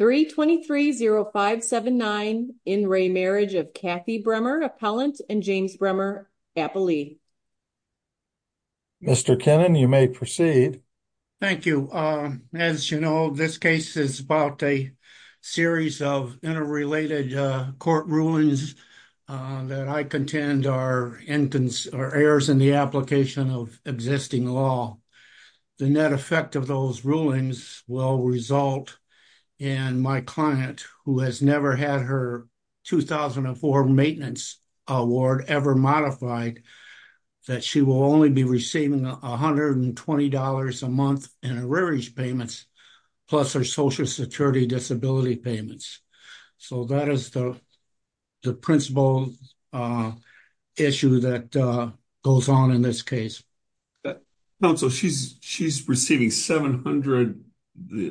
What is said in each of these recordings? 3230579 in re marriage of Kathy Bremer, Appellant and James Bremer, Appellee. Mr. Kennan, you may proceed. Thank you. Um, as you know, this case is about a series of interrelated, uh, court rulings, uh, that I contend are incons or errors in the application of existing law. The net effect of those rulings will result in my client who has never had her 2004 maintenance award ever modified. That she will only be receiving $120 a month and a rearage payments plus her social security disability payments. So that is the, the principle, uh, issue that, uh, goes on in this case. But also she's, she's receiving 700,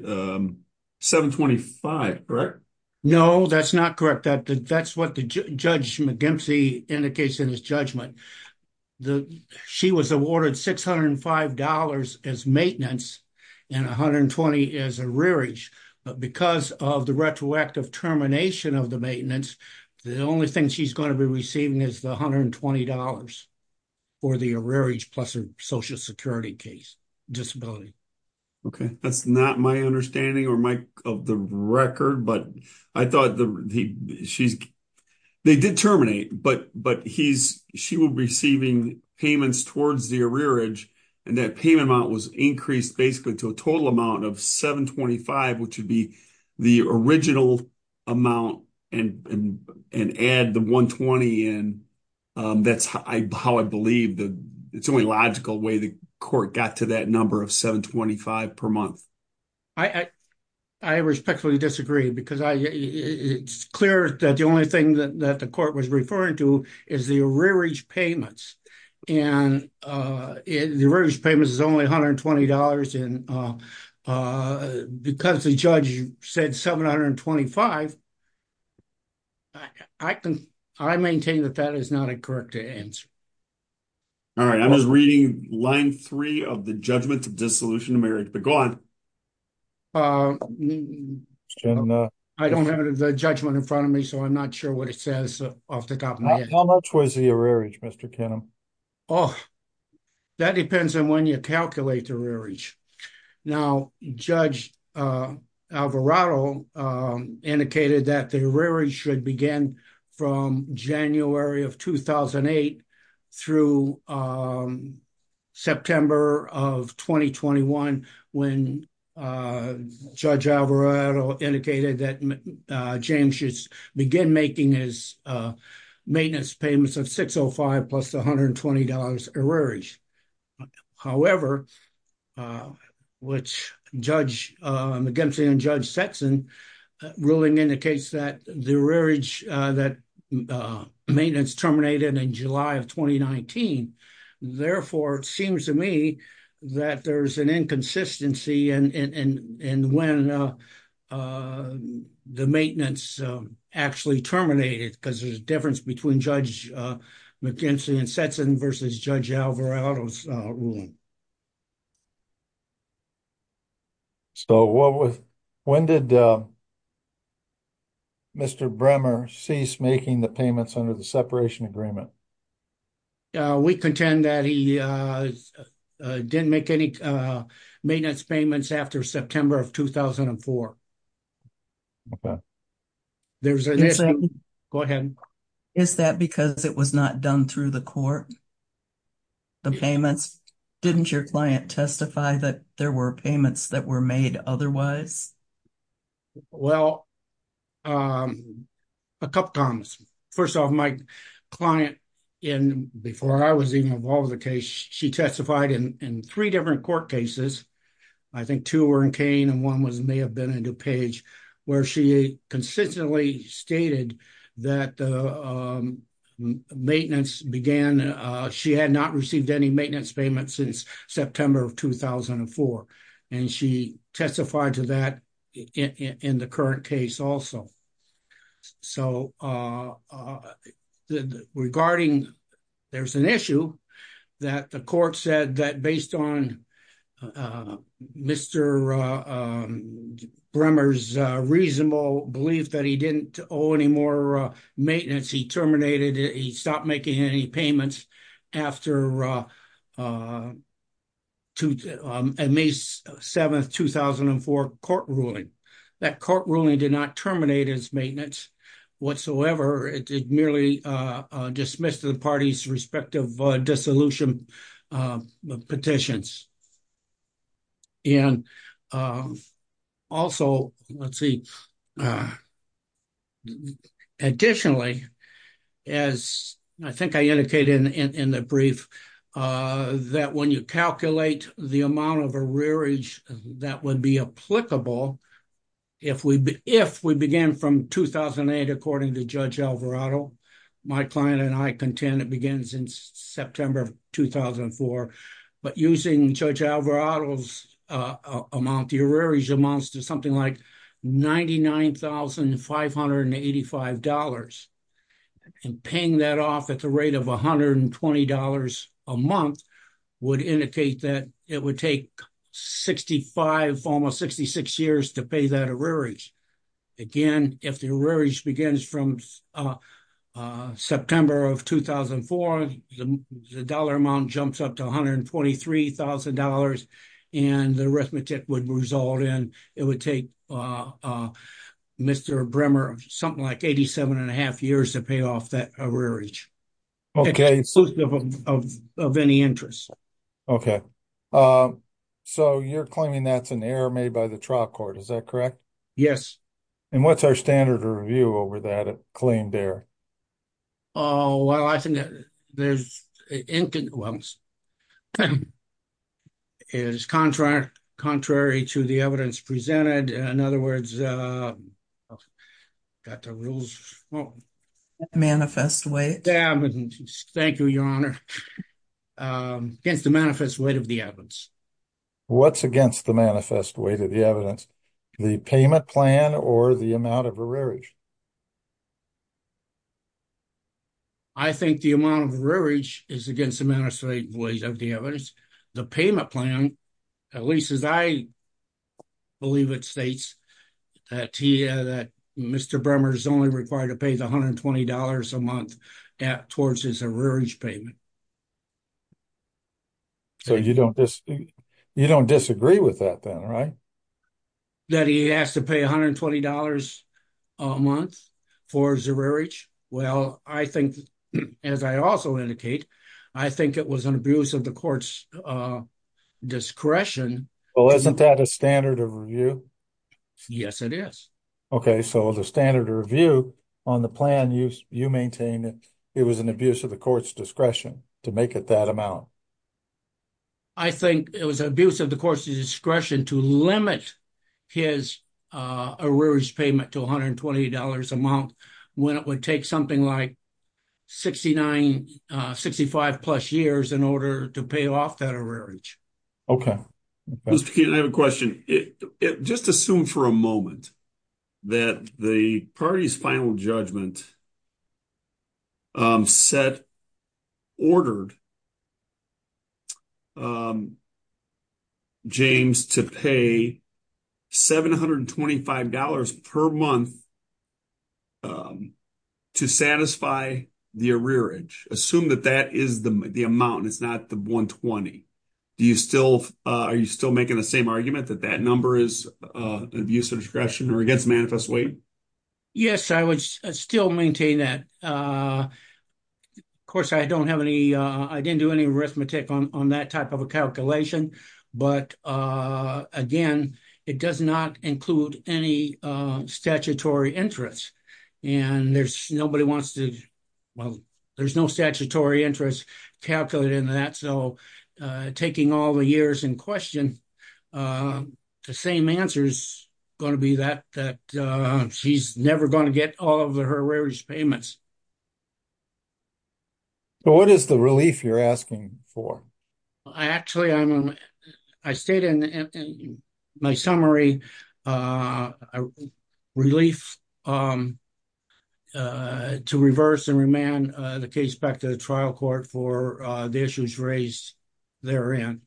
um, 725, correct? No, that's not correct. That that's what the judge McGimsey indicates in his judgment. The, she was awarded $605 as maintenance and 120 as a rearage, but because of the retroactive termination of the maintenance, the only thing she's going to be receiving is the $120 for the rearage plus her social security case disability. Okay. That's not my understanding or my of the record, but I thought the, she's, they did terminate, but, but he's, she will be receiving payments towards the rearage. And that payment amount was increased basically to a total amount of 725, which would be the original amount and, and, and add the 120. And, um, that's how I, how I believe that it's only logical way. The court got to that number of 725 per month. I, I respectfully disagree because I, it's clear that the only thing that the court was referring to is the rearage payments and, uh, the rearage payments is only $120 and, uh, uh, because the judge said 725, I can, I maintain that that is not a correct answer. All right. I was reading line three of the judgment of dissolution of marriage, but go on. Uh, I don't have the judgment in front of me, so I'm not sure what it says off the top of my head. How much was the rearage Mr. Oh, that depends on when you calculate the rearage. Now, judge, uh, Alvarado, um, indicated that the rearage should begin from January of 2008 through, um, September of 2021 when, uh, judge Alvarado indicated that, uh, James should begin making his, uh, maintenance payments of 605 plus $120 a rearage, however, uh, which judge, uh, McGinsey and judge Sexton ruling indicates that the rearage, uh, that, uh, maintenance terminated in July of 2019, therefore, it seems to me that there's an inconsistency and, and, and when, uh, uh, the maintenance, um, actually terminated because there's a difference between judge, uh, McGinsey and sets in versus judge Alvarado's, uh, ruling. So what was, when did, uh, Mr. Bremer cease making the payments under the separation agreement? Uh, we contend that he, uh, uh, didn't make any, uh, maintenance payments after September of 2004. Okay. There's a, go ahead. Is that because it was not done through the court? The payments, didn't your client testify that there were payments that were made otherwise? Well, um, a couple of times. First off my client in, before I was even involved with the case, she testified in three different court cases. I think two were in Kane and one was, may have been in DuPage where she consistently stated that, uh, um, maintenance began, uh, she had not received any maintenance payments since September of 2004. And she testified to that in the current case also. So, uh, uh, regarding there's an issue that the court said that based on, uh, Mr. Uh, um, Bremer's, uh, reasonable belief that he didn't owe any more, uh, maintenance. He terminated it. He stopped making any payments after, uh, uh, to, um, at May 7th, 2004 court ruling. That court ruling did not terminate his maintenance whatsoever. It did merely, uh, uh, dismissed the party's respective, uh, dissolution, uh, petitions. And, um, also let's see, uh, additionally, as I think I indicated in, in, in the brief, uh, that when you calculate the amount of a rearage that would be applicable, if we, if we began from 2008, according to Judge Alvarado, my client and I contend it begins in September of 2004, but using Judge Alvarado's, uh, amount, the arrearage amounts to something like $99,585. And paying that off at the rate of $120 a month would indicate that it would take 65, almost 66 years to pay that arrearage. Again, if the arrearage begins from, uh, uh, September of 2004, the dollar amount jumps up to $123,000 and the arithmetic would result in, it would take, uh, uh, Mr. Bremer, something like 87 and a half years to pay off that arrearage of any interest. Okay. Um, so you're claiming that's an error made by the trial court. Is that correct? Yes. And what's our standard review over that claim there? Oh, well, I think that there's, is contrary, contrary to the evidence presented, in other words, uh, got the rules wrong. Manifest weight. The evidence, thank you, Your Honor. Um, against the manifest weight of the evidence. What's against the manifest weight of the evidence, the payment plan or the amount of arrearage? I think the amount of arrearage is against the manifest weight of the evidence. The payment plan, at least as I believe it states, uh, Tia, that Mr. Bremer is only required to pay the $120 a month at, towards his arrearage payment. So you don't, you don't disagree with that then, right? That he has to pay $120 a month for his arrearage. Well, I think, as I also indicate, I think it was an abuse of the court's, uh, discretion. Well, isn't that a standard of review? Yes, it is. Okay. So the standard review on the plan, you, you maintain that it was an abuse of the court's discretion to make it that amount. I think it was an abuse of the court's discretion to limit his, uh, arrearage payment to $120 a month when it would take something like 69, uh, 65 plus years in order to pay off that arrearage. Okay. Mr. Keenan, I have a question. It, it just assumed for a moment that the party's final judgment, um, ordered, um, James to pay $725 per month, um, to satisfy the arrearage. Assume that that is the, the amount, and it's not the 120. Do you still, uh, are you still making the same argument that that number is, uh, abuse of discretion or against manifest weight? Yes, I would still maintain that. Uh, of course I don't have any, uh, I didn't do any arithmetic on, on that type of a calculation, but, uh, again, it does not include any, uh, statutory interest. And there's nobody wants to, well, there's no statutory interest calculated in that. So, uh, taking all the years in question, uh, the same answer's going to be that, that, uh, she's never going to get all of her arrearage payments. So what is the relief you're asking for? I actually, I'm, I stayed in my summary, uh, relief, um, uh, to reverse and remand, uh, the case back to the trial court for, uh, the issues raised therein.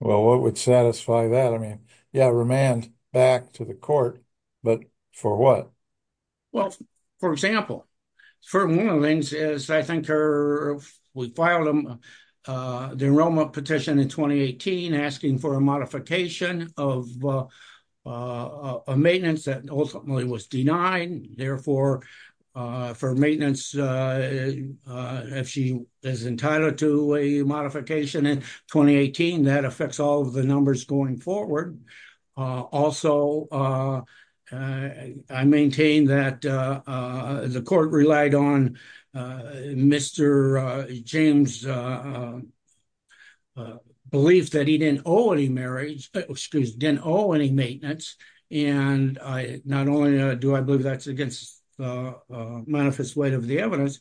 Well, what would satisfy that? I mean, yeah, remand back to the court, but for what? Well, for example, for one of the things is I think her, we filed them, uh, the enrollment petition in 2018, asking for a modification of, uh, uh, a maintenance that ultimately was denied therefore, uh, for maintenance, uh, uh, if she is entitled to a modification in 2018, that affects all of the numbers going forward. Uh, also, uh, uh, I maintain that, uh, uh, the court relied on, uh, Mr. Uh, James, uh, uh, uh, belief that he didn't owe any marriage, excuse, didn't owe any maintenance. And I, not only do I believe that's against, uh, uh, manifest weight of the evidence,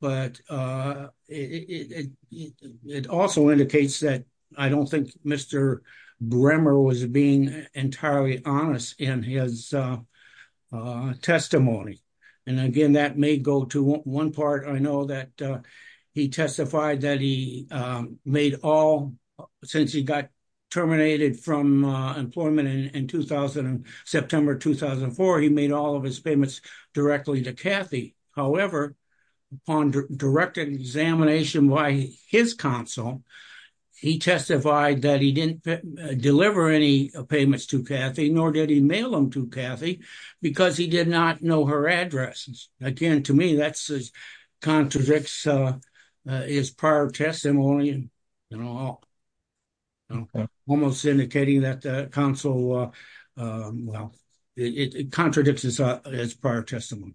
but, uh, it, it, it, it also indicates that I don't think Mr. Bremer was being entirely honest in his, uh, uh, testimony. And again, that may go to one part. I know that, uh, he testified that he, um, made all since he got terminated from, uh, employment in, in 2000, September, 2004, he made all of his payments directly to Kathy. However, upon direct examination, why his console, he testified that he didn't deliver any payments to Kathy, nor did he mail them to Kathy because he did not know her addresses. Again, to me, that's as contradicts, uh, uh, his prior testimony and all. Okay. Almost indicating that the council, uh, um, well, it contradicts his, uh, his prior testimony.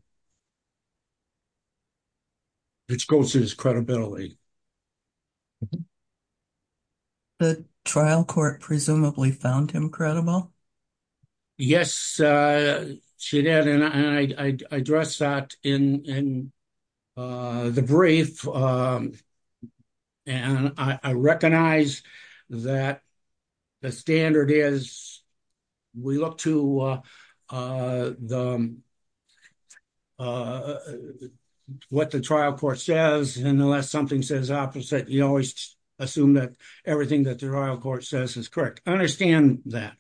It's goes to his credibility. The trial court presumably found him credible. Yes, uh, she did. And I, I addressed that in, in, uh, the brief. Um, and I recognize that the standard is we look to, uh, uh, the, um, uh, what the trial court says, and unless something says opposite, you always assume that everything that the trial court says is correct. I understand that.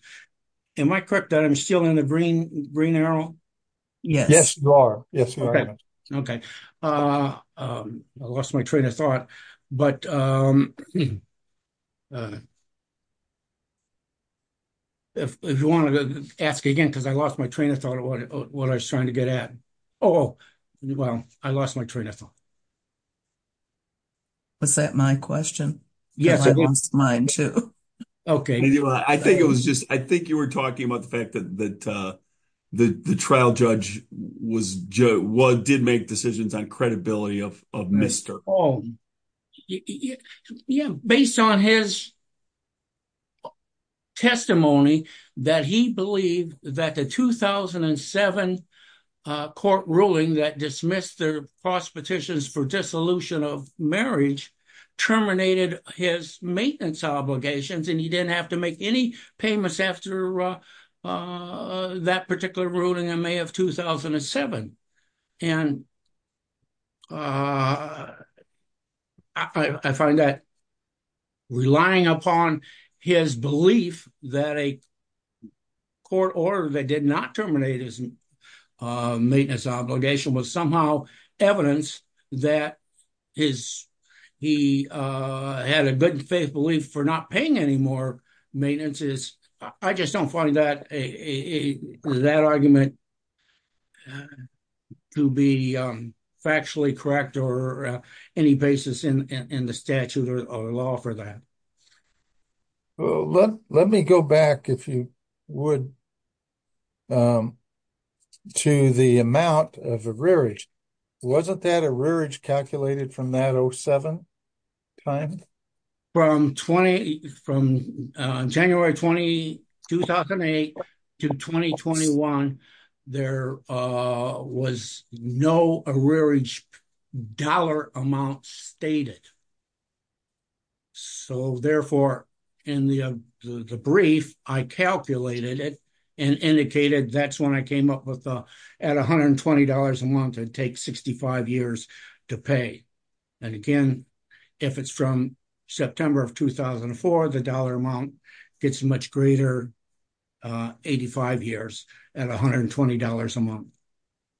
Am I correct that I'm still in the green, green arrow? Yes, yes, you are. Okay. Uh, um, I lost my train of thought, but, um, uh, if you want to ask again, cause I lost my train of thought of what I was trying to get at. Oh, well, I lost my train of thought. Was that my question? Yes. I lost mine too. I think it was just, I think you were talking about the fact that, that, uh, the, the trial judge was Joe, what did make decisions on credibility of, of Mr. Oh, yeah. Based on his testimony that he believed that the 2007, uh, court ruling that dismissed their prospectations for dissolution of marriage terminated his maintenance obligations, and he didn't have to make any payments after, uh, uh, that particular ruling in May of 2007. And, uh, I find that relying upon his belief that a court order that did not terminate his, uh, maintenance obligation was somehow evidence that his, he, uh, had a good faith belief for not paying any more maintenance is I just don't find that a, a, that argument to be, um, factually correct or, uh, any basis in, in, in the statute or law for that. Well, let, let me go back if you would, um, to the amount of a rearage. Wasn't that a rearage calculated from that 07 time? From 20, from, uh, January 20, 2008 to 2021, there, uh, was no a rearage dollar amount stated. So therefore in the, uh, the brief I calculated it and indicated that's when I came up with, uh, at $120 a month, it takes 65 years to pay. And again, if it's from September of 2004, the dollar amount gets much greater, uh, 85 years at $120 a month.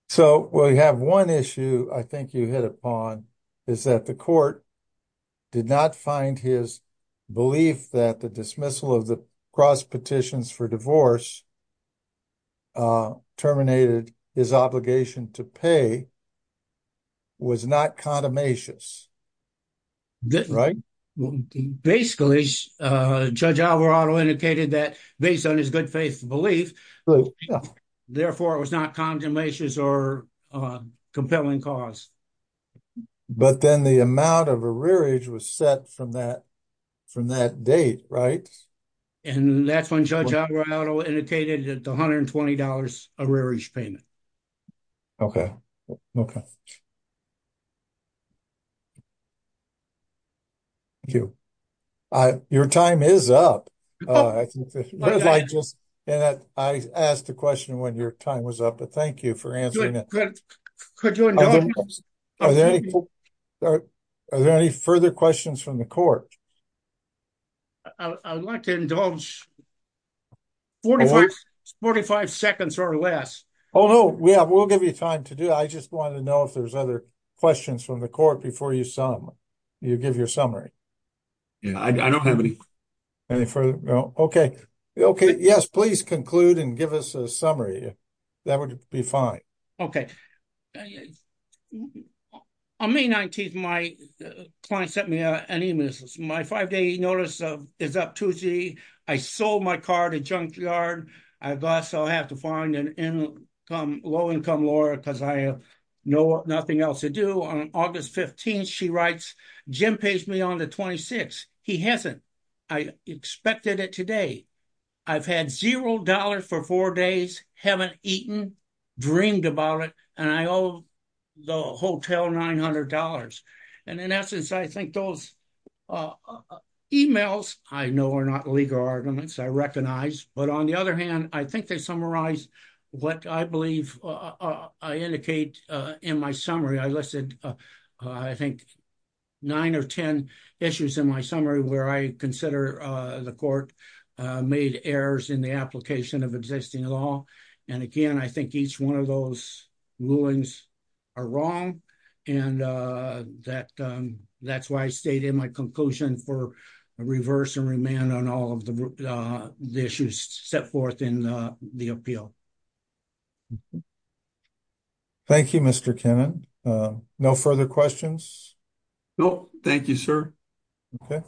So we have one issue I think you hit upon is that the court did not find his belief that the dismissal of the cross petitions for divorce, uh, terminated his obligation to pay was not condamnations, right? Well, basically, uh, judge Alvarado indicated that based on his good faith belief, therefore it was not condemnations or, uh, compelling cause. But then the amount of a rearage was set from that, from that date, right? And that's when judge Alvarado indicated that the $120 a rearage payment. Okay. Thank you. I, your time is up. Uh, I think that I asked the question when your time was up, but thank you for answering that. Are there any, are there any further questions from the court? I would like to indulge 45, 45 seconds or less. Oh, no, we have, we'll give you time to do. I just wanted to know if there's other questions from the court before you. You give your summary. Yeah, I don't have any any further. Okay. Okay. Yes. Please conclude and give us a summary. That would be fine. Okay. On May 19th, my client sent me an email, my five day notice of is up Tuesday. I sold my car at a junkyard. I've also have to find an income, low income lawyer. Cause I have no, nothing else to do on August 15th. She writes, Jim pays me on the 26th. He hasn't. I expected it today. I've had $0 for four days. Haven't eaten. Dreamed about it. And I owe the hotel $900. And in essence, I think those emails I know are not legal arguments. I recognize, but on the other hand, I think they summarize what I believe I indicate in my summary. I listed I think. Nine or 10 issues in my summary where I consider the court made errors in the application of existing law. And again, I think each one of those rulings are wrong. And, uh, that, um, that's why I stayed in my conclusion for a reverse and remand on all of the, uh, the issues set forth in the, uh, the appeal. Thank you, Mr. Kennan. Um, no further questions. Nope. Thank you, sir. Okay.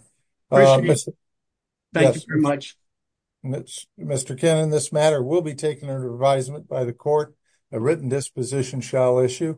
Thank you very much. And that's Mr. Ken in this matter will be taken under advisement by the court. A written disposition shall issue.